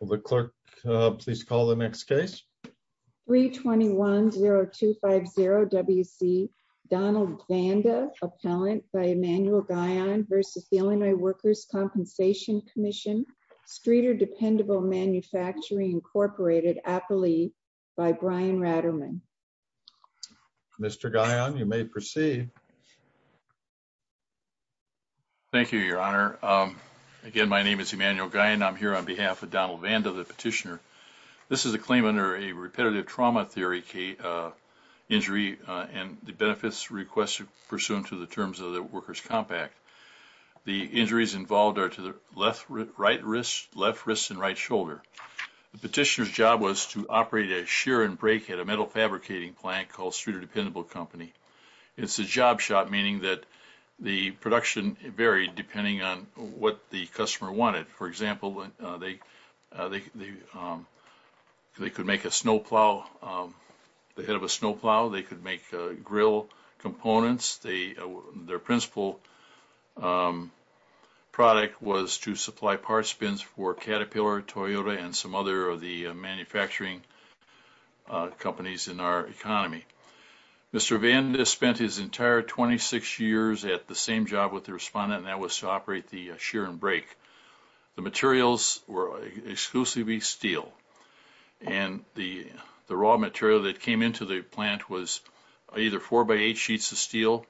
Will the clerk please call the next case? 321-0250-WC Donald Vanda, appellant by Emmanuel Guyon v. Illinois Workers' Compensation Comm'n, Streeter Dependable Manufacturing Incorporated, appellee by Brian Ratterman. Mr. Guyon, you may proceed. Thank you, Your Honor. Again, my name is Emmanuel Guyon. I'm here on behalf of Donald Vanda, the petitioner. This is a claim under a repetitive trauma theory injury and the benefits requested pursuant to the terms of the Workers' Compact. The injuries involved are to the left, right wrist, left wrist, and right shoulder. The petitioner's job was to operate a shear and break at a metal job shop, meaning that the production varied depending on what the customer wanted. For example, they could make a snowplow, the head of a snowplow. They could make grill components. Their principal product was to supply parts bins for Caterpillar, Toyota, and some other manufacturing companies in our economy. Mr. Vanda spent his entire 26 years at the same job with the respondent, and that was to operate the shear and break. The materials were exclusively steel, and the raw material that came into the plant was either four-by-eight sheets of steel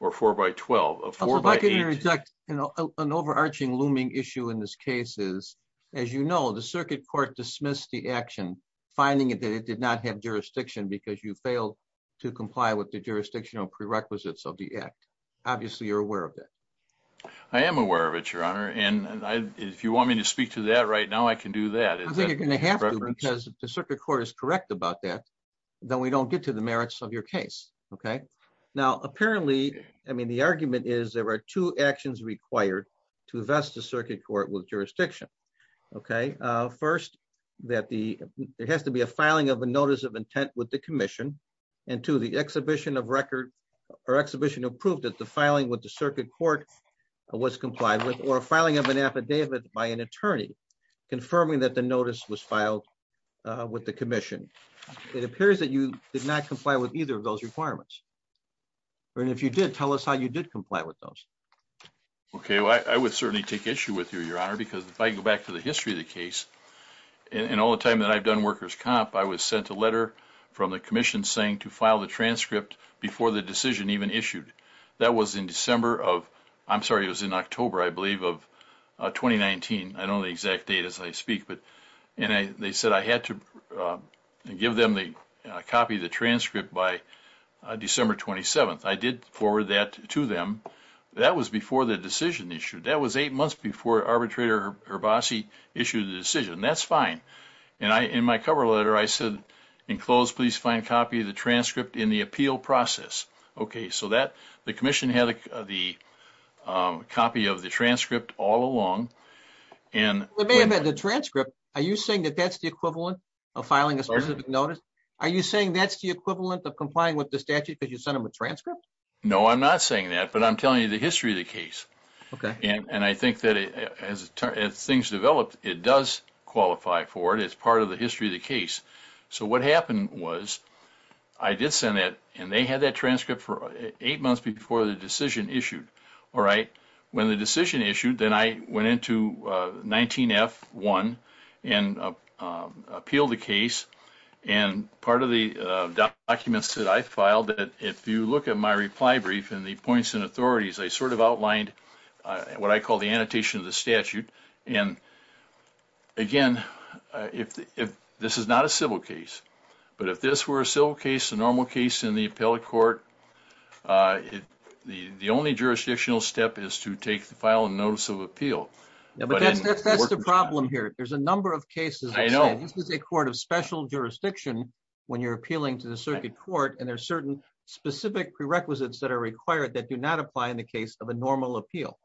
or four-by-twelve. If I can interject, an overarching looming issue in this case is, as you know, the circuit court dismissed the action, finding that it did not have jurisdiction because you failed to comply with the jurisdictional prerequisites of the act. Obviously, you're aware of that. I am aware of it, Your Honor, and if you want me to speak to that right now, I can do that. I think you're going to have to because if the circuit court is correct about that, then we don't get to the merits of your case, okay? Now, apparently, I mean, the argument is there are two actions required to vest the circuit court with jurisdiction, okay? First, there has to be a filing of a notice of intent with the commission, and two, the exhibition of record or exhibition of proof that the filing with the circuit court was complied with or filing of an affidavit by an attorney confirming that the notice was filed with the commission. It appears that you did not comply with either of those requirements, and if you did, tell us how you did comply with those. Okay, I would certainly take issue with you, Your Honor, because if I go back to the history of the case and all the time that I've done workers' comp, I was sent a letter from the commission saying to file the transcript before the decision even issued. That was in December of, I'm sorry, it was in October, I believe, of 2019. I don't know the exact date as I speak, and they said I had to copy the transcript by December 27th. I did forward that to them. That was before the decision issued. That was eight months before Arbitrator Herbace issued the decision. That's fine, and in my cover letter, I said, in close, please find a copy of the transcript in the appeal process. Okay, so the commission had the copy of the transcript all along, and... It may have been the transcript. Are you saying that that's the equivalent of filing a specific notice? Are you saying that's the equivalent of complying with the statute because you sent them a transcript? No, I'm not saying that, but I'm telling you the history of the case, and I think that as things develop, it does qualify for it. It's part of the history of the case. So what happened was I did send it, and they had that transcript for eight months before the decision issued. All right, when the decision issued, then I went into 19F1 and appealed the case, and part of the documents that I filed, if you look at my reply brief and the points and authorities, they sort of outlined what I call the annotation of the statute, and again, this is not a civil case, but if this were a civil case, a normal case in the appellate court, the only jurisdictional step is to take the final notice of appeal. Yeah, but that's the problem here. There's a number of cases that say this is a court of special jurisdiction when you're appealing to the circuit court, and there's certain specific prerequisites that are required that do not apply in the case of a normal appeal.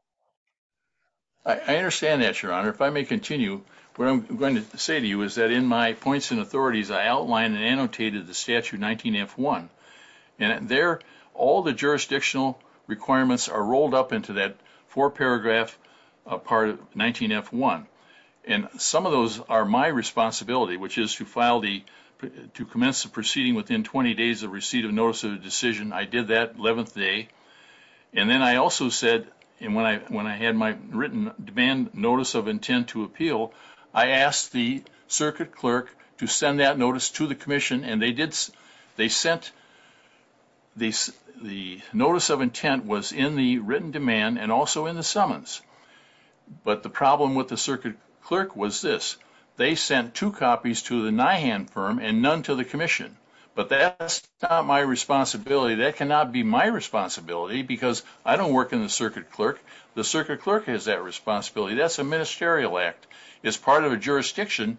I understand that, Your Honor. If I may continue, what I'm going to say to you is that in my points and authorities, I outlined and annotated the statute 19F1, and there all the jurisdictional requirements are rolled up into that four-paragraph part of 19F1, and some of those are my responsibility, which is to file the, to commence the proceeding within 20 days of receipt of notice of the decision. I did that 11th day, and then I also said, and when I had my written demand notice of intent to appeal, I asked the circuit clerk to send that notice to the circuit clerk, and that notice of intent was in the written demand and also in the summons. But the problem with the circuit clerk was this. They sent two copies to the NIHAN firm and none to the commission, but that's not my responsibility. That cannot be my responsibility because I don't work in the circuit clerk. The circuit clerk has that responsibility. That's a ministerial act. It's part of a jurisdiction,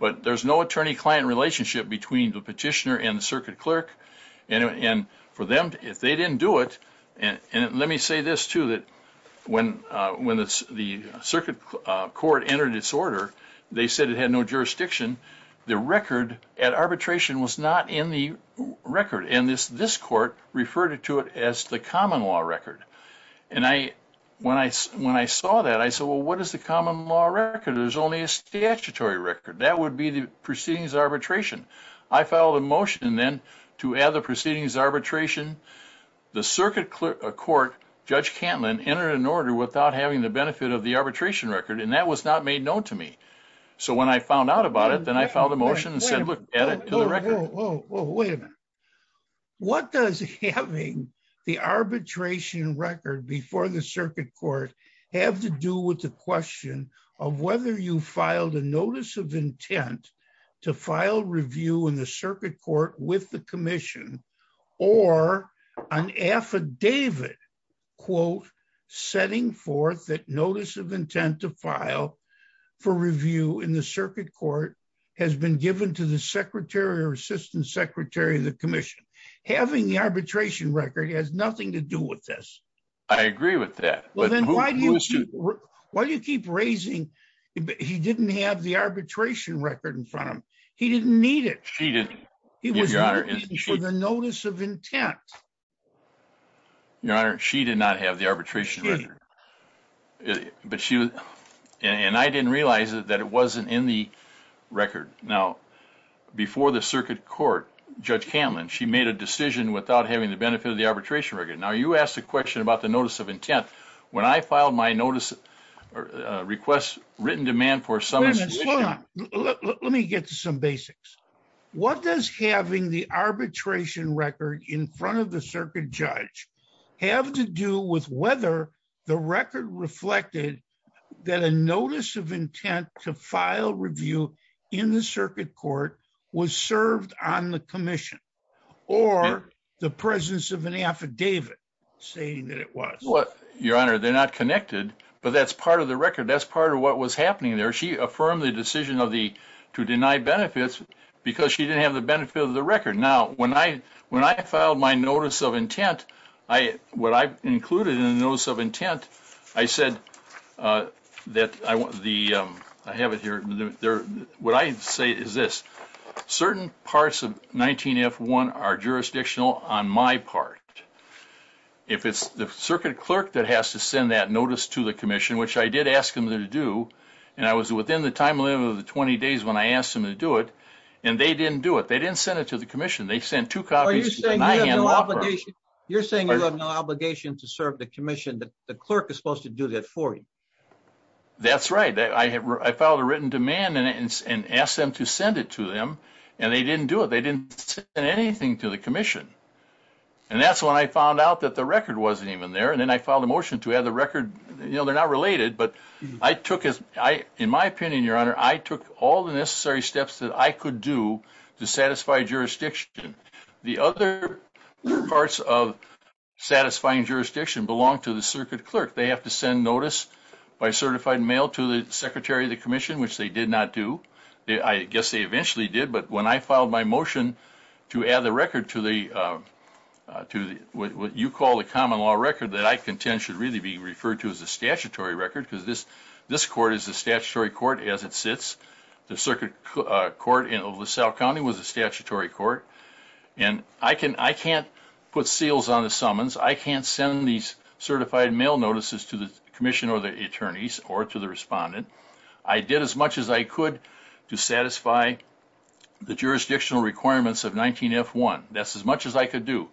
but there's no attorney-client relationship between the petitioner and the circuit clerk, and for them, if they didn't do it, and let me say this, too, that when the circuit court entered its order, they said it had no jurisdiction. The record at arbitration was not in the record, and this court referred to it as the common law record, and when I saw that, I said, well, what is the common law record? There's only a statutory record. That would be the proceedings arbitration. I filed a motion then to add the proceedings arbitration. The circuit court, Judge Cantlin, entered an order without having the benefit of the arbitration record, and that was not made known to me, so when I found out about it, then I filed a motion and said, look, add it to the record. Whoa, whoa, whoa, wait a minute. What does having the arbitration record before the circuit court have to do with the question of whether you filed a notice of intent to file review in the circuit court with the commission or an affidavit, quote, setting forth that notice of intent to file for review in the circuit court has been given to the secretary or assistant secretary of the commission? Having the arbitration record has nothing to do with this. I agree with that. Well, then why do you keep raising, he didn't have the arbitration record in front of him. He didn't need it. She didn't. He was looking for the notice of intent. Your Honor, she did not have the arbitration record, but she, and I didn't realize that it wasn't in the record. Now, before the circuit court, Judge Cantlin, she made a decision without having the benefit of the arbitration record. Now, you asked a question about the notice of intent when I filed my notice request written demand for some. Let me get to some basics. What does having the arbitration record in front of the circuit judge have to do with whether the record reflected that a notice of intent to file review in the circuit court? She didn't have the benefit of the record. Now, when I filed my notice of intent, what I included in the notice of intent, I said that I want the, I have it here. What I say is this, certain parts of 19F1 are jurisdictional on my part. If it's the circuit clerk that has to send that notice to the commission, which I did ask them to do, and I was within the time limit of the 20 days when I asked them to do it, and they didn't do it. They didn't send it to the commission. They sent two copies. You're saying you have no obligation to serve the commission. The clerk is supposed to do that for you. That's right. I filed a written demand and asked them to send it to them, and they didn't do it. They didn't send anything to the commission. That's when I found out that the record wasn't even there, and then I filed a motion to add the record. They're not related, but I took, in my opinion, your honor, I took all the necessary steps that I could do to satisfy jurisdiction. The other parts of satisfying jurisdiction belong to the circuit clerk. They have to send notice by certified mail to the secretary of the commission, which they did not do. I guess they eventually did, but when I filed my record to what you call the common law record that I contend should really be referred to as the statutory record, because this court is the statutory court as it sits. The circuit court in LaSalle County was a statutory court, and I can't put seals on the summons. I can't send these certified mail notices to the commission or the attorneys or to the respondent. I did as much as I could do.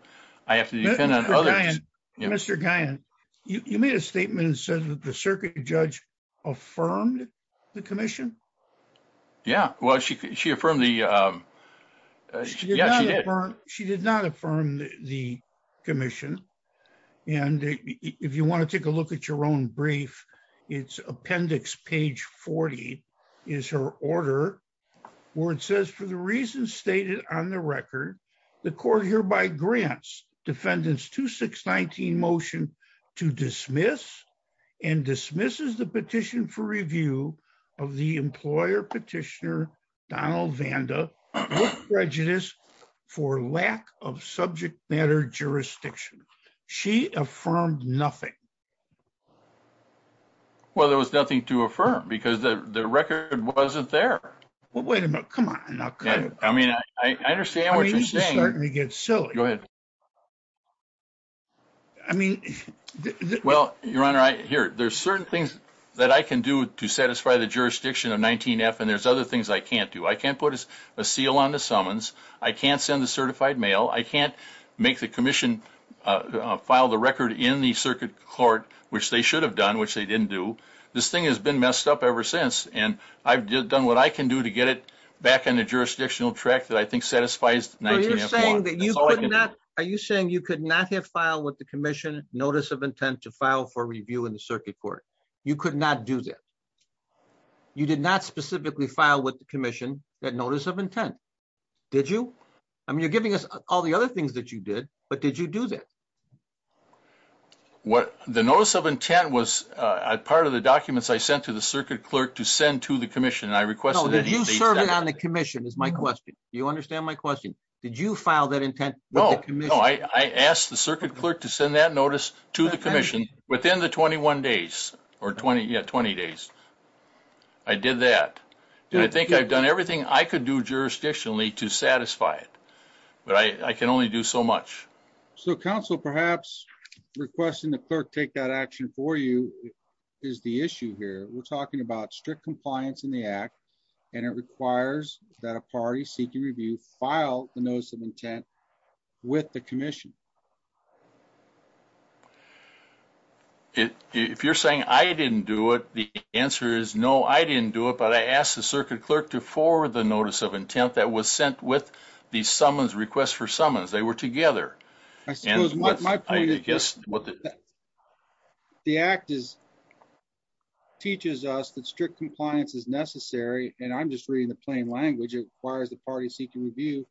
I have to depend on others. Mr. Guyon, you made a statement and said that the circuit judge affirmed the commission? Yeah, well, she did not affirm the commission, and if you want to take a look at your own brief, it's appendix page 40 is her order where it says, for the reasons stated on the record, the court hereby grants defendants 2619 motion to dismiss and dismisses the petition for review of the employer petitioner Donald Vanda prejudice for lack of subject matter jurisdiction. She affirmed nothing. Well, there was nothing to affirm because the record wasn't there. Well, wait a minute. Come on now. I mean, I understand what you're saying. It's starting to get silly. Go ahead. I mean, well, your honor, I hear there's certain things that I can do to satisfy the jurisdiction of 19F, and there's other things I can't do. I can't put a seal on the summons. I can't send the certified mail. I can't make the commission file the record in the circuit court, which they should have done, which they didn't do. This thing has been messed up ever since, and I've done what I can do to get it back on the jurisdictional track that I think satisfies 19F1. Are you saying that you could not have filed with the commission notice of intent to file for review in the circuit court? You could not do that. You did not specifically file with the commission that notice of intent. Did you? I mean, you're giving us all the other things that you did, but did you do that? The notice of intent was part of the documents I sent to the circuit clerk to send to the commission, and I requested that he... No, did you serve it on the commission is my question. Do you understand my question? Did you file that intent with the commission? No, I asked the circuit clerk to send that notice to the commission within the 21 days or 20, yeah, 20 days. I did that, and I think I've done everything I could do jurisdictionally to satisfy it, but I can only do so much. So council, perhaps requesting the clerk take that action for you is the issue here. We're talking about strict compliance in the act, and it requires that a party seeking review file the notice of intent with the commission. If you're saying I didn't do it, the answer is no, I didn't do it, but I asked the circuit clerk to forward the notice of intent that was sent with the summons, requests for summons. They were together. The act teaches us that strict compliance is necessary, and I'm just reading the plain language. It requires the party seeking review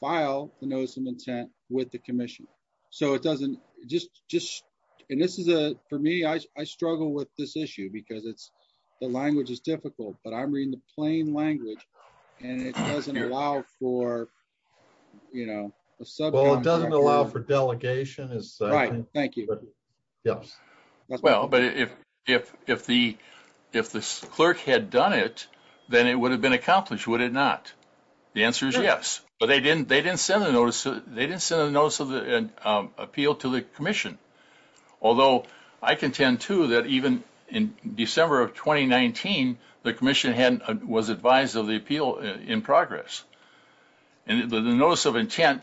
file the notice of intent with the commission, so it doesn't just... And this is a... For me, I struggle with this issue because it's... I'm just reading the plain language, and it doesn't allow for, you know, a subcontractor. Well, it doesn't allow for delegation. Right, thank you. Yes. Well, but if the clerk had done it, then it would have been accomplished, would it not? The answer is yes, but they didn't send the notice of the appeal to the commission, although I contend, too, that even in December of 2019, the commission was advised of the appeal in progress, and the notice of intent,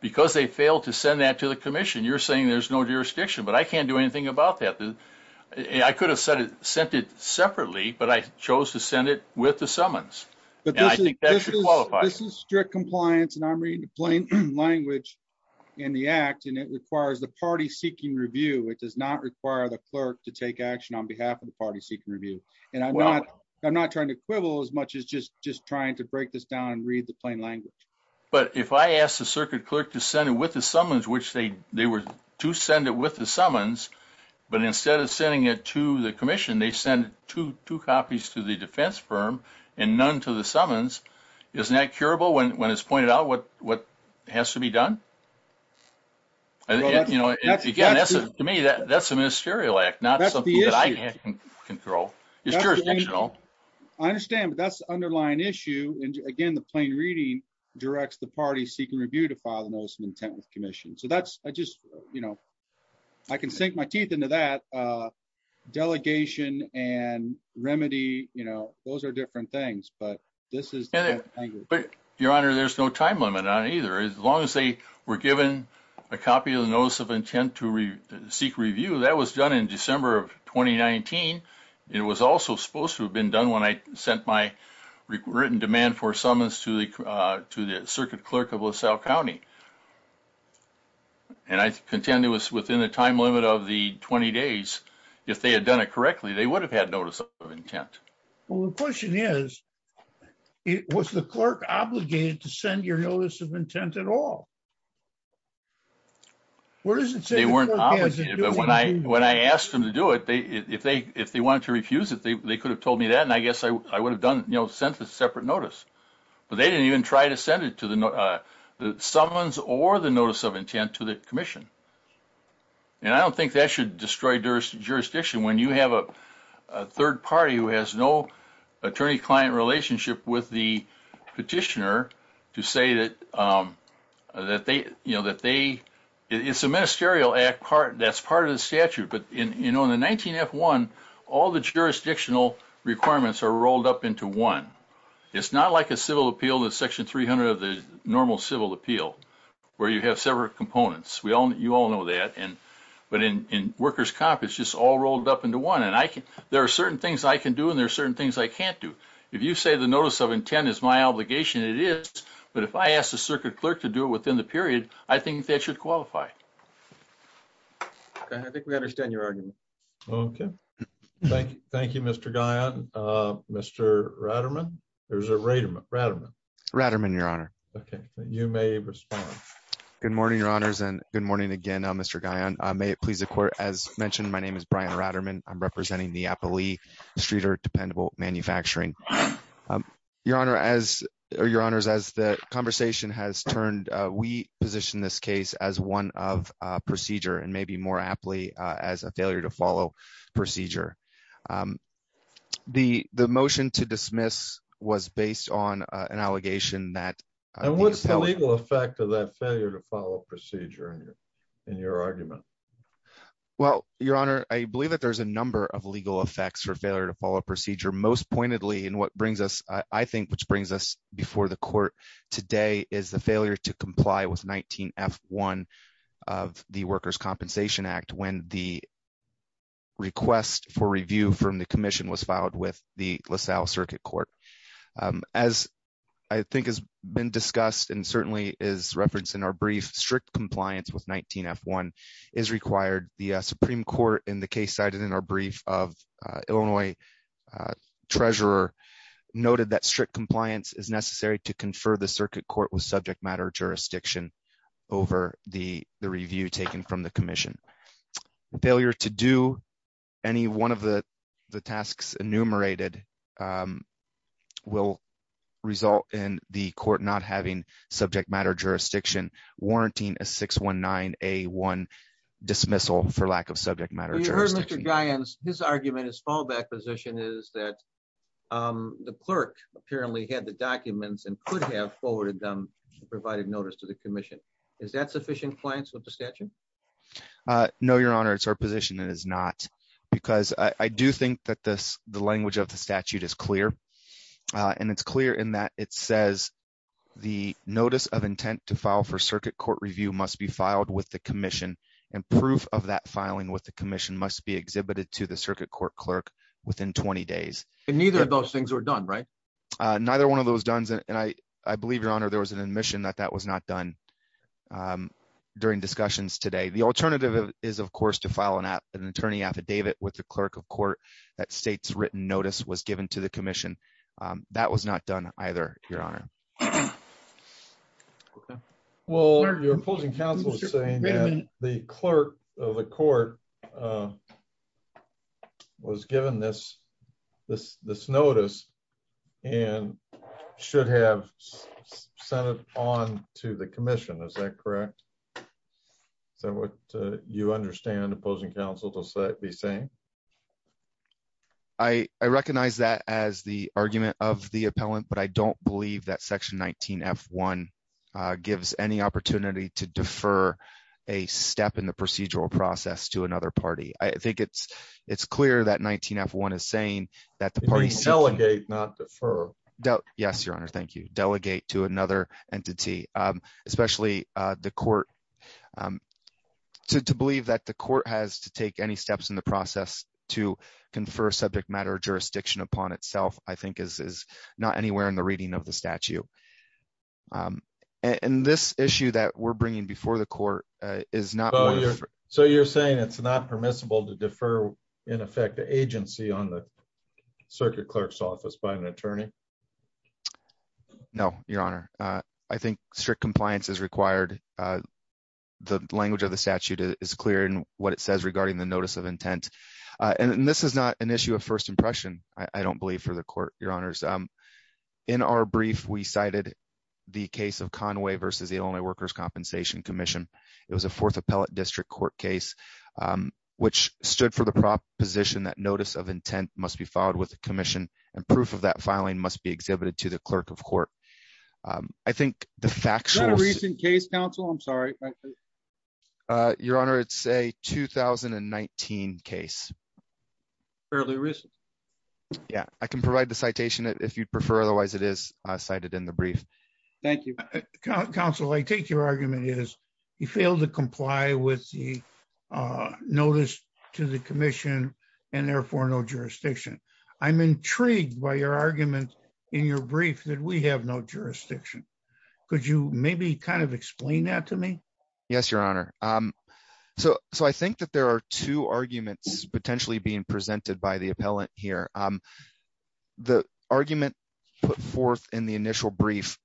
because they failed to send that to the commission, you're saying there's no jurisdiction, but I can't do anything about that. I could have sent it separately, but I chose to send it with the summons, and I think that should qualify. This is strict compliance, and I'm reading the plain language in the act, and it requires the party seeking review. It does not require the clerk to take action on behalf of the party seeking review, and I'm not trying to quibble as much as just trying to break this down and read the plain language. But if I asked the circuit clerk to send it with the summons, which they were to send it with the summons, but instead of sending it to the commission, they sent two copies to the defense firm and none to the summons, isn't that curable when it's pointed out what has to be done? Again, to me, that's a ministerial act, not something that I can control. It's jurisdictional. I understand, but that's the underlying issue, and again, the plain reading directs the party seeking review to file the notice of intent with the commission. So that's, I just, you know, I can sink my teeth into that. Delegation and remedy, you know, those are different things. But this is... Your Honor, there's no time limit on it either. As long as they were given a copy of the notice of intent to seek review, that was done in December of 2019. It was also supposed to have been done when I sent my written demand for summons to the circuit clerk of LaSalle County. And I contend it was within the time limit of the 20 days. If they had done it correctly, they would have had notice of intent. Well, the question is, was the clerk obligated to send your notice of intent at all? Where does it say... They weren't obligated, but when I asked them to do it, if they wanted to refuse it, they could have told me that, and I guess I would have done, you know, sent a separate notice. But they didn't even try to send it to the summons or the notice of intent to the commission. And I don't think that should destroy jurisdiction when you have a third party who has no attorney-client relationship with the petitioner to say that it's a ministerial act that's part of the statute. But in the 19F1, all the jurisdictional requirements are rolled up into one. It's not like a civil appeal that's section 300 of the normal civil appeal, where you have several components. You all know that. But in workers' comp, it's just all rolled up into one. And there are certain things I can do, and there are certain things I can't do. If you say the notice of intent is my obligation, it is. But if I ask the circuit clerk to do it within the period, I think that should qualify. Okay. I think we understand your argument. Okay. Thank you, Mr. Guyon. Mr. Ratterman? Or is it Raterman? Ratterman. Ratterman, Your Honor. Okay. You may respond. Good morning, Your Honors. And good morning again, Mr. Guyon. May it please the Court, as mentioned, my name is Brian Ratterman. I'm representing the Applee Streeter Dependable Manufacturing. Your Honors, as the conversation has turned, we position this case as one of procedure, and maybe more aptly as a failure to follow procedure. The motion to dismiss was based on an allegation that- What is the legal effect of that failure to follow procedure in your argument? Well, Your Honor, I believe that there's a number of legal effects for failure to follow procedure. Most pointedly, and what brings us, I think, which brings us before the Court today, is the failure to comply with 19F1 of the Workers' Compensation Act when the request for review from the Commission was filed with the LaSalle Circuit Court. As I think has been discussed and certainly is referenced in our brief, strict compliance with 19F1 is required. The Supreme Court, in the case cited in our brief of Illinois Treasurer, noted that strict compliance is necessary to confer the Circuit Court with subject matter jurisdiction over the review taken from the Commission. Failure to do any one of the tasks enumerated will result in the Court not having subject matter jurisdiction, warranting a 619A1 dismissal for lack of subject matter jurisdiction. You heard Mr. Giants, his argument, his fallback position is that the clerk apparently had the documents and could have forwarded them and provided notice to the Commission. Is that sufficient compliance with the statute? No, Your Honor. It's our position it is not. Because I do think that the language of the statute is clear. And it's clear in that it says the notice of intent to file for Circuit Court review must be filed with the Commission and proof of that filing with the Commission must be exhibited to the Circuit Court clerk within 20 days. And neither of those things were done, right? Neither one of those done. And I believe, Your Honor, there was an admission that that was not done during discussions today. The alternative is, of course, to file an attorney affidavit with the clerk of court that states written notice was given to the Commission. That was not done either, Your Honor. Well, your opposing counsel is saying that the clerk of the court was given this notice and should have sent it on to the Commission. Is that correct? Is that what you understand opposing counsel to be saying? I recognize that as the argument of the appellant, but I don't believe that section 19 F one gives any opportunity to defer a step in the procedural process to another party. I think it's clear that 19 F one is saying that the parties delegate not defer. Yes, Your Honor. Thank you. Delegate to another entity, especially the court to believe that the court has to take any steps in the process to confer subject matter jurisdiction upon itself, I think, is not anywhere in the reading of the statute. And this issue that we're bringing before the court is not. So you're saying it's not permissible to defer, in effect, the agency on the circuit clerk's office by an attorney? No, Your Honor. I think strict compliance is required. The language of the statute is clear in what it says regarding the notice of intent. And this is not an issue of first impression. I don't believe for the court, Your Honors. In our brief, we cited the case of Conway versus the only workers Compensation Commission. It was a fourth appellate district court case, which stood for the proposition that notice of intent must be followed with the commission, and proof of that filing must be exhibited to the clerk of court. I think the fact that a recent case counsel, I'm sorry. Your Honor, it's a 2019 case. Fairly recent. Yeah, I can provide the citation if you'd prefer. Otherwise, it is cited in the brief. Thank you. Counsel, I take your argument is he failed to comply with the notice to the commission, and therefore no jurisdiction. I'm intrigued by your argument in your brief that we have no jurisdiction. Could you maybe kind of explain that to me? Yes, Your Honor. So I think that there are two arguments potentially being presented by the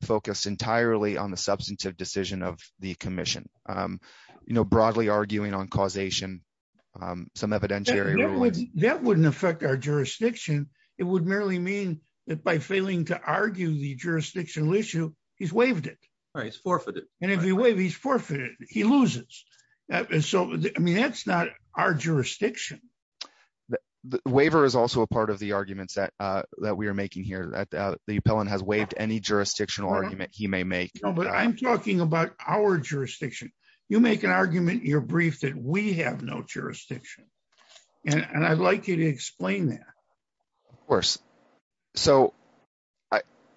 focus entirely on the substantive decision of the commission. You know, broadly arguing on causation, some evidentiary rulings. That wouldn't affect our jurisdiction. It would merely mean that by failing to argue the jurisdictional issue, he's waived it. Right, he's forfeited. And if he waives, he's forfeited. He loses. And so, I mean, that's not our jurisdiction. Waiver is also a part of the arguments that we are making here. The appellant has waived any jurisdictional argument he may make. No, but I'm talking about our jurisdiction. You make an argument in your brief that we have no jurisdiction. And I'd like you to explain that. Of course. So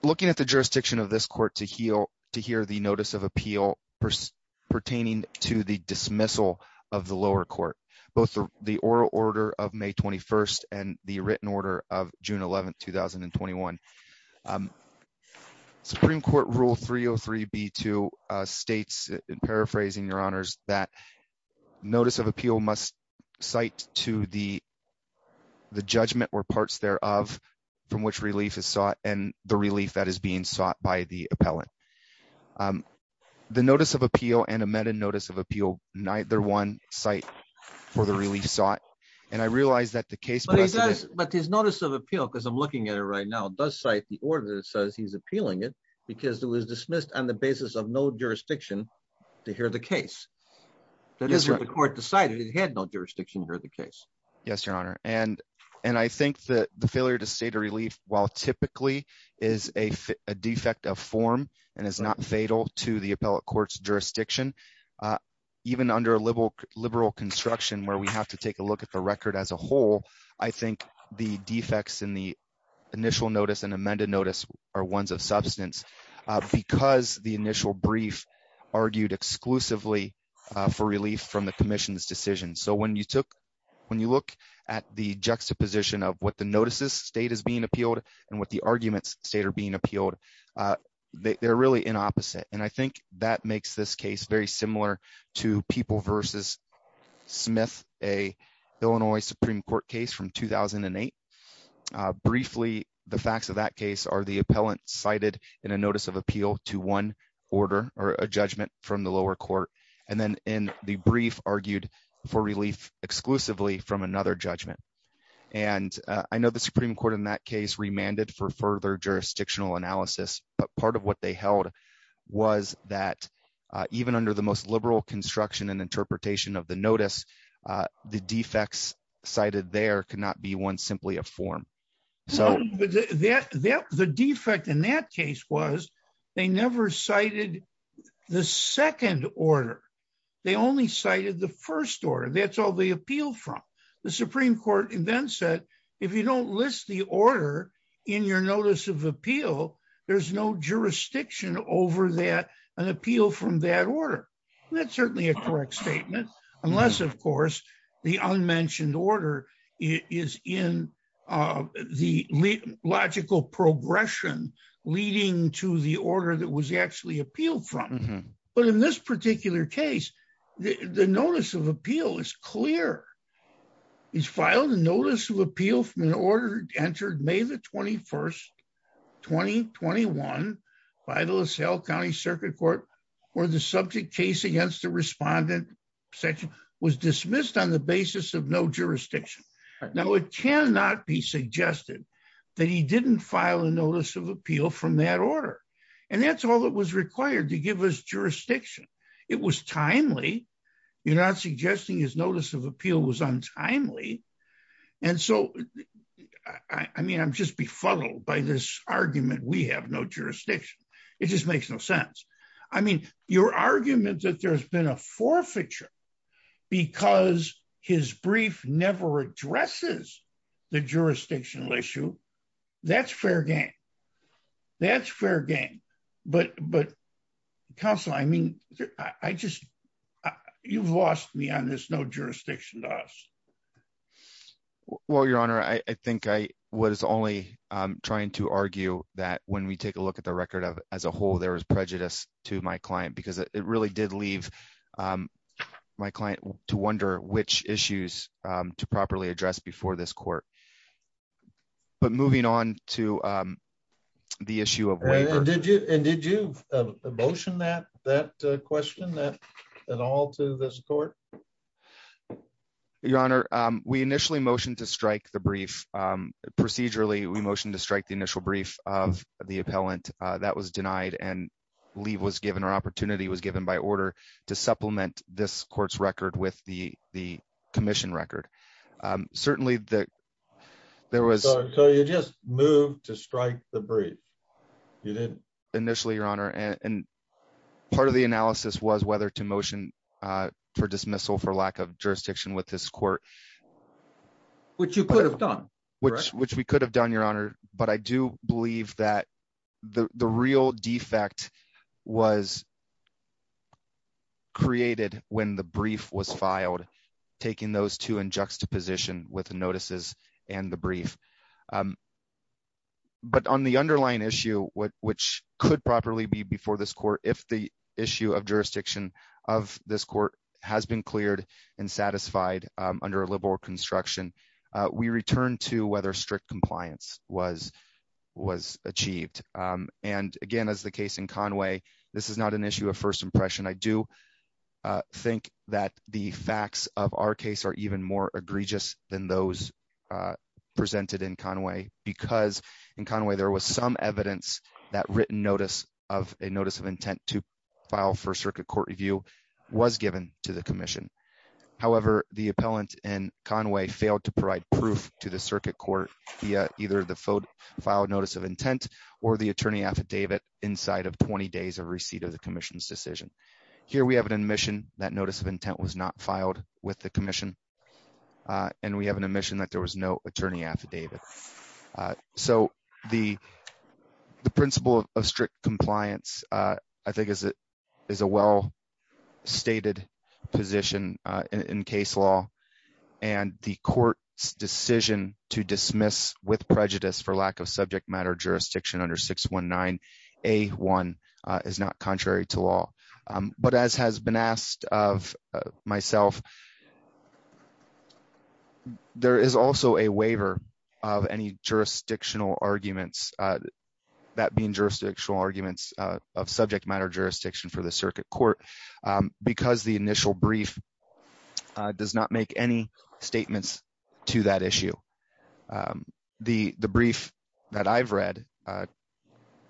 looking at the jurisdiction of this court to hear the notice of appeal pertaining to the dismissal of the lower court, both the oral order of May 21st and the written order of June 11th, 2021, Supreme Court Rule 303B2 states, paraphrasing your honors, that notice of appeal must cite to the judgment or parts thereof from which relief is sought and the relief that is being sought by the appellant. The notice of appeal and amended notice of appeal, neither one cite for the relief sought. And I realize that the case. But his notice of appeal, because I'm looking at it right now, does cite the order that says he's appealing it because it was dismissed on the basis of no jurisdiction to hear the case. That is what the court decided. It had no jurisdiction to hear the case. Yes, your honor. And I think that the failure to state a relief, while typically is a defect of form and is not fatal to the appellate court's jurisdiction, even under a liberal construction where we have to take a look at the record as a whole, I think the defects in the initial notice and amended notice are ones of substance because the initial brief argued exclusively for relief from the commission's decision. So when you look at the juxtaposition of what the notices state is being appealed and what the arguments state are being appealed, they're really in opposite. And I think that makes this case very similar to people versus Smith, a Illinois Supreme Court case from 2008. Briefly, the facts of that case are the appellant cited in a notice of appeal to one order or a judgment from the lower court, and then in the brief argued for relief exclusively from another judgment. And I know the Supreme Court in that case remanded for further jurisdictional analysis, but part of what they held was that even under the most liberal construction and interpretation of the notice, the defects cited there could not be one simply a form. So the defect in that case was they never cited the second order. They only cited the first order. That's all they appealed from. The Supreme Court then said, if you don't list the order in your notice of appeal, there's no jurisdiction over that, an appeal from that order. That's certainly a correct statement, unless of course, the unmentioned order is in the logical progression leading to the order that was actually appealed from. But in this particular case, the notice of appeal is clear. He's filed a notice of appeal from an order entered May the 21st, 2021, by the LaSalle County Circuit Court, where the subject case against the respondent section was dismissed on the basis of no jurisdiction. Now, it cannot be suggested that he didn't file a notice of appeal from that order. And that's all that was required to give us jurisdiction. It was timely. You're not suggesting his notice of appeal was untimely. And so, I mean, I'm just befuddled by this argument, we have no jurisdiction. It just makes no sense. I mean, your argument that there's been a forfeiture because his brief never addresses the jurisdictional issue. That's fair game. That's fair game. But counsel, I mean, I just, you've lost me on this no jurisdiction to us. Well, your honor, I think I was only trying to argue that when we take a look at the record of as a whole, there was prejudice to my client, because it really did leave my client to wonder which issues to properly address before this court. But moving on to the issue of waiver. And did you motion that question at all to this court? Your honor, we initially motioned to strike the brief. Procedurally, we motioned to strike the initial brief of the appellant that was denied and leave was given or opportunity was given by order to supplement this court's record with the commission record. Certainly, there was... So you just moved to strike the brief. You didn't. Initially, your honor. And part of the analysis was whether to motion for dismissal for lack of jurisdiction with this court. Which you could have done. Which we could have done, your honor. But I do believe that the real defect was created when the brief was filed, taking those two in juxtaposition with notices and the brief. But on the underlying issue, which could properly be before this court, if the issue of jurisdiction of this court has been cleared and satisfied under a liberal construction, we return to whether strict compliance was achieved. And again, as the case in Conway, this is not an issue of first impression. I do think that the facts of our case are even more egregious than those presented in Conway. Because in Conway, there was some evidence that written notice of a notice of intent to file for circuit court review was given to the commission. However, the appellant in Conway failed to provide proof to the circuit court via either the filed notice of intent or the attorney affidavit inside of 20 days of receipt of the commission's decision. Here we have an admission that notice of intent was not filed with the commission. And we have an admission that there was no attorney affidavit. So the principle of strict compliance, I think, is a well stated position in case law. And the court's decision to dismiss with prejudice for lack of subject matter jurisdiction under 619A1 is not contrary to law. But as has been asked of myself, there is also a waiver of any jurisdictional arguments, that being jurisdictional arguments of subject matter jurisdiction for the circuit court, because the initial brief does not make any statements to that issue. The brief that I've read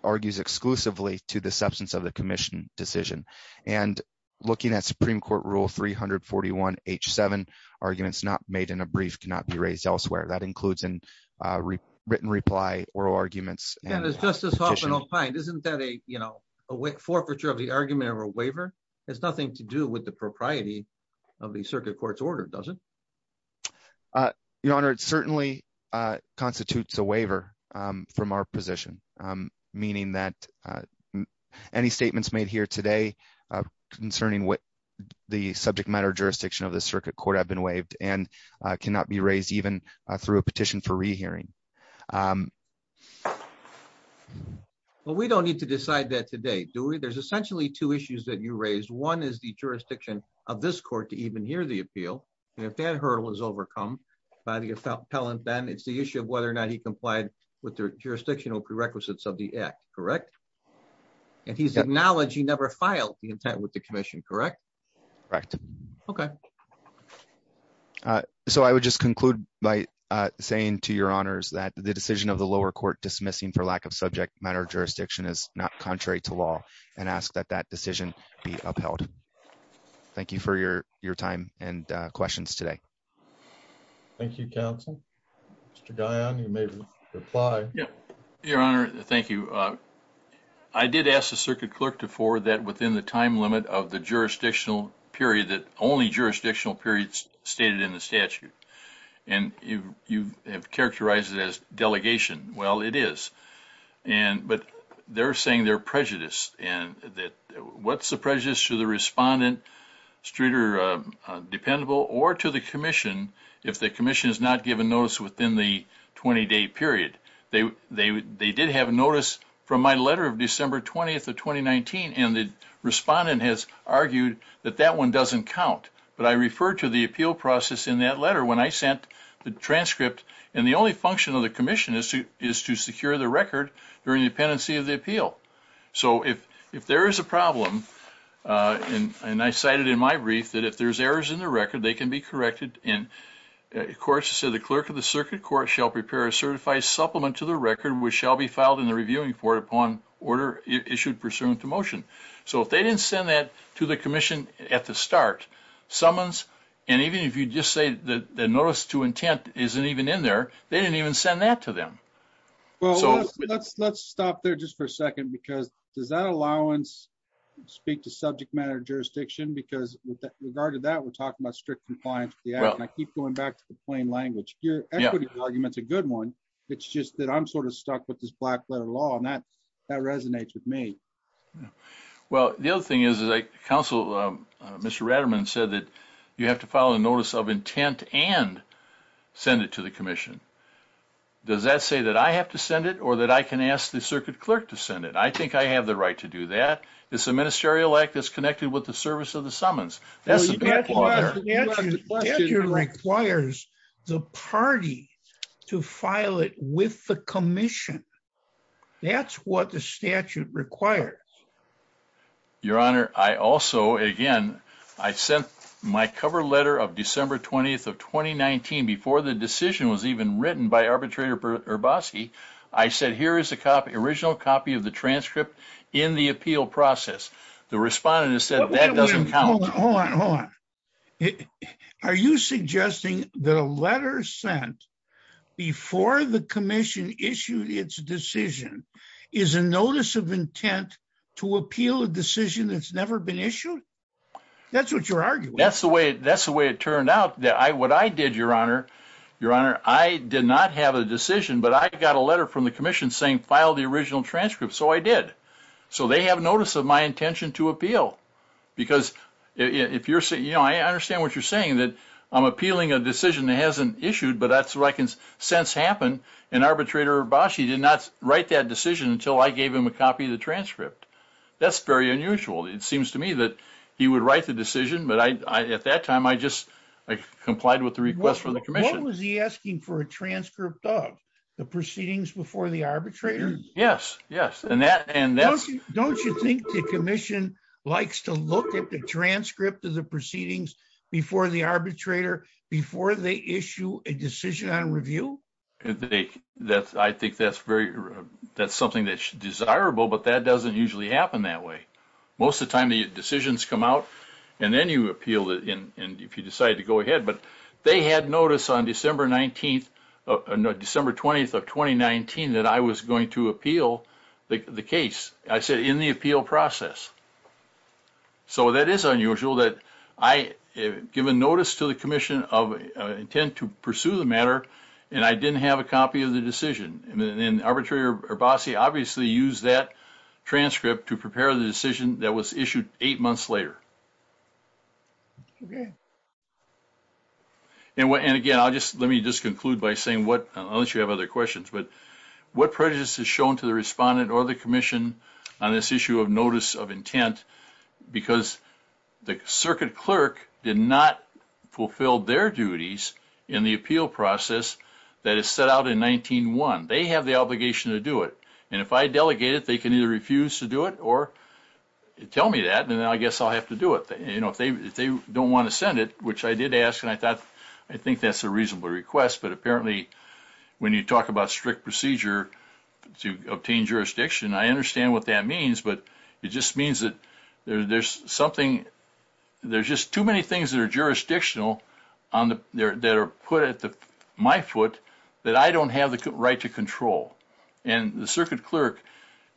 argues exclusively to the substance of the commission decision. And looking at Supreme Court Rule 341H7, arguments not made in a brief cannot be raised elsewhere. That includes in written reply or arguments. And as Justice Hoffman opined, isn't that a forfeiture of argument or a waiver? It has nothing to do with the propriety of the circuit court's order, does it? Your Honor, it certainly constitutes a waiver from our position, meaning that any statements made here today concerning what the subject matter jurisdiction of the circuit court have been waived and cannot be raised even through a petition for rehearing. Well, we don't need to decide that today, do we? There's essentially two issues that you raised. One is the jurisdiction of this court to even hear the appeal. And if that hurdle is overcome by the appellant, then it's the issue of whether or not he complied with the jurisdictional prerequisites of the act, correct? And he's acknowledged he never filed the intent with the commission, correct? Correct. Okay. So I would just conclude by saying to your honors that the decision of the lower court dismissing for lack of subject matter jurisdiction is not contrary to law and ask that that decision be upheld. Thank you for your time and questions today. Thank you, counsel. Mr. Dionne, you may reply. Your Honor, thank you. I did ask the jurisdictional period that only jurisdictional periods stated in the statute. And you have characterized it as delegation. Well, it is. But they're saying they're prejudiced. And what's the prejudice to the respondent, street or dependable or to the commission if the commission has not given notice within the 20-day period? They did have notice from my letter of December 20th of 2019. And the respondent has argued that that one doesn't count. But I refer to the appeal process in that letter when I sent the transcript. And the only function of the commission is to secure the record during the pendency of the appeal. So if there is a problem, and I cited in my brief that if there's errors in the record, they can be corrected. And of course, the clerk of the circuit court shall prepare a certified supplement to the record which shall be filed in the reviewing court upon order issued pursuant to motion. So if they didn't send that to the commission at the start, summons, and even if you just say that the notice to intent isn't even in there, they didn't even send that to them. Well, let's stop there just for a second because does that allowance speak to subject matter jurisdiction? Because with regard to that, we're talking about strict compliance. I keep going back to the plain language. Your equity argument's a good one. It's just that I'm sort of stuck with this black letter law and that that resonates with me. Well, the other thing is that council, Mr. Ratterman said that you have to file a notice of intent and send it to the commission. Does that say that I have to send it or that I can ask the circuit clerk to send it? I think I have the right to do that. It's a to file it with the commission. That's what the statute requires. Your honor, I also, again, I sent my cover letter of December 20th of 2019 before the decision was even written by arbitrator Urboski. I said here is the original copy of the transcript in the appeal process. The respondent has said that doesn't count. Hold on, hold on. Are you suggesting that a letter sent before the commission issued its decision is a notice of intent to appeal a decision that's never been issued? That's what you're arguing. That's the way it turned out. What I did, your honor, your honor, I did not have a decision, but I got a letter from the commission saying file the original transcript. So I did. So they have notice of my intention to appeal because if you're saying, you know, I understand what you're saying that I'm appealing a decision that hasn't issued, but that's what I can sense happen. And arbitrator Urboski did not write that decision until I gave him a copy of the transcript. That's very unusual. It seems to me that he would write the decision, but I, at that time, I just, I complied with the request from the commission. What was he asking for a transcript of? The proceedings before the arbitrator? Yes. Yes. And that, and that's, don't you think the commission likes to look at the transcript of the proceedings before the arbitrator, before they issue a decision on review? They, that's, I think that's very, that's something that's desirable, but that doesn't usually happen that way. Most of the time the decisions come out and then you appeal it. And if you decide to go ahead, but they had notice on December 19th, December 20th of 2019, that I was going to appeal the case. I said in the appeal process. So that is unusual that I give a notice to the commission of intent to pursue the matter, and I didn't have a copy of the decision. And then arbitrator Urboski obviously used that transcript to prepare the decision that was issued eight months later. Okay. And what, and again, I'll just, let me just conclude by saying what, unless you have other questions, but what prejudice is shown to the respondent or the commission on this issue of notice of intent, because the circuit clerk did not fulfill their duties in the appeal process that is set out in 19-1. They have the obligation to do it. And if I delegate it, they can either refuse to do it or tell me that, and then I guess I'll have to do it. You know, if they don't want to send it, which I did ask, and I thought, I think that's a reasonable request, but apparently when you talk about strict procedure to obtain jurisdiction, I understand what that means, but it just means that there's something, there's just too many things that are jurisdictional that are put at my foot that I don't have the right to control. And the circuit clerk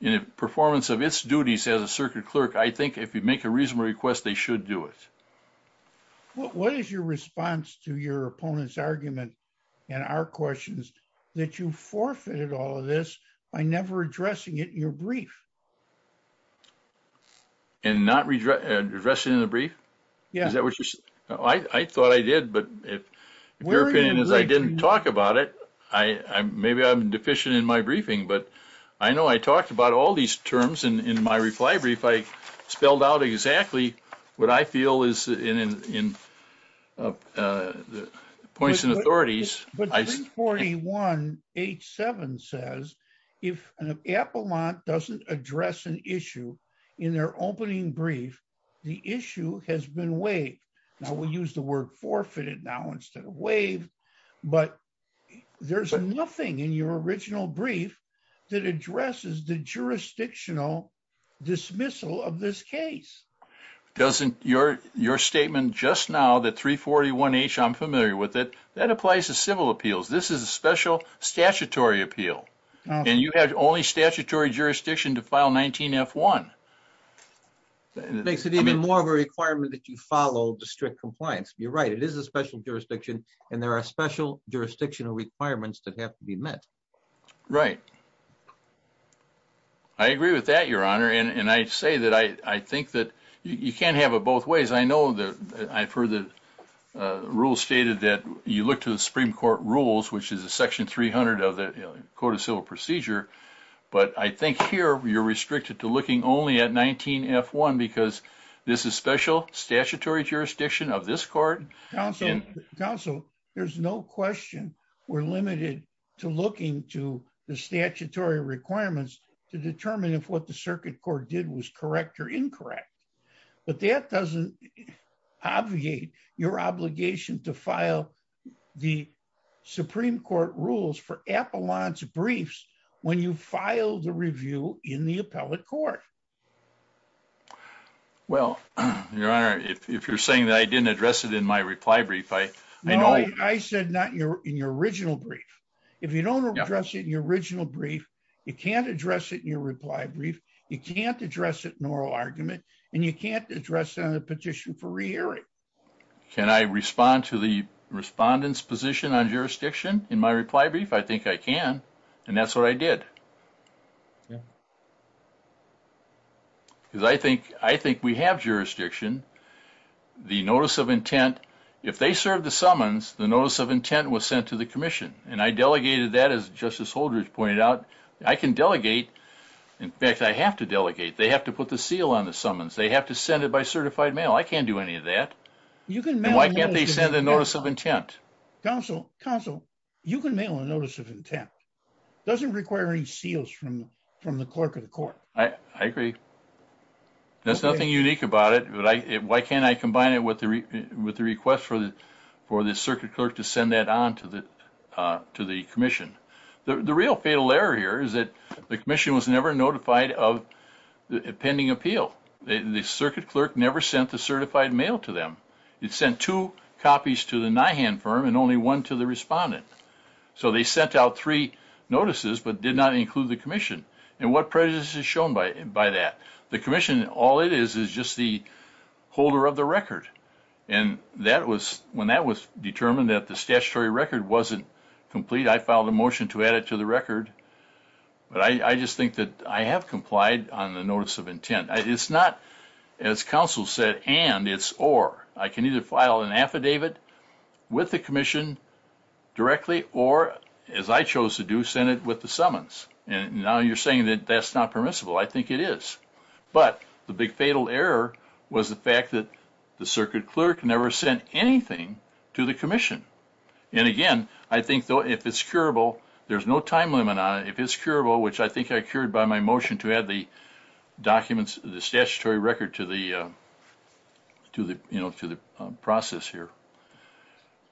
in a performance of its duties as a circuit clerk, I think if you make a reasonable request, they should do it. What is your response to your opponent's argument and our questions that you forfeited all of this by never addressing it in your brief? And not addressing it in the brief? Yeah. Is that what you said? I thought I did, but if your opinion is I didn't talk about it, I, maybe I'm deficient in my briefing, but I know I talked about all these terms in my reply brief. I spelled out exactly what I feel is in the points and authorities. But 341.87 says, if an appellant doesn't address an issue in their opening brief, the issue has been waived. Now we use the word forfeited now instead of waived, but there's nothing in your original brief that addresses the jurisdictional dismissal of this case. Doesn't your statement just now that 341H, I'm familiar with it, that applies to civil appeals. This is a special statutory appeal and you have only statutory jurisdiction to file 19F1. Makes it even more of a requirement that you follow district compliance. You're right. It is a special jurisdiction and there are special jurisdictional requirements that have to be met. Right. I agree with that, Your Honor. And I say that I think that you can't have it both ways. I know I've heard the rule stated that you look to the Supreme Court rules, which is a section 300 of the Code of Civil Procedure. But I think here you're restricted to looking only at 19F1 because this is special statutory jurisdiction of this court. Counsel, there's no question we're limited to looking to the statutory requirements to determine if what the circuit court did was correct or incorrect. But that doesn't obviate your obligation to file the Supreme Court rules for appellant briefs when you file the review in the appellate court. Well, Your Honor, if you're saying that I didn't address it in my reply brief, I know. I said not in your original brief. If you don't address it in your original brief, you can't address it in your reply brief. You can't address it in an oral argument and you can't address it on a petition for re-hearing. Can I respond to the respondent's position on jurisdiction in my reply brief? I think I can. And that's what I did. Yeah. Because I think we have jurisdiction. The notice of intent, if they serve the summons, the notice of intent was sent to the commission. And I delegated that as Justice Holdridge pointed out. I can delegate. In fact, I have to delegate. They have to put the seal on the summons. They have to send it by certified mail. I can't do any of that. And why can't they send a notice of intent? Counsel, you can mail a notice of intent. It doesn't require any seals from the clerk of the court. I agree. There's nothing unique about it. Why can't I combine it with the request for the circuit clerk to send that on to the commission? The real fatal error here is that the commission was never notified of the pending appeal. The circuit clerk never sent the certified mail to them. It sent two copies to the NIHAN firm and only one to the respondent. So they sent out three notices but did not include the commission. And what prejudice is shown by that? The commission, all it is, is just the holder of the record. And when that was determined that the statutory record wasn't complete, I filed a motion to add it to the record. But I just think that I have complied on a notice of intent. It's not, as counsel said, and, it's or. I can either file an affidavit with the commission directly or, as I chose to do, send it with the summons. And now you're saying that that's not permissible. I think it is. But the big fatal error was the fact that the circuit clerk never sent anything to the commission. And again, I think, though, if it's curable, there's no time limit on it. If it's curable, which I think I cured by my motion to add the documents, the statutory record to the process here.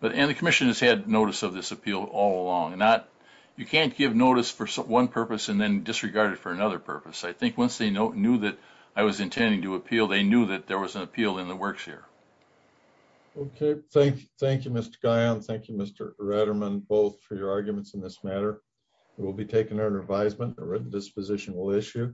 But, and the commission has had notice of this appeal all along. You can't give notice for one purpose and then disregard it for another purpose. I think once they knew that I was intending to appeal, they knew that there was an appeal in the works here. Okay. Thank you, Mr. Guyon. Thank you, Mr. Redderman, both for your arguments in this matter. It will be taken under advisement. The written disposition will issue.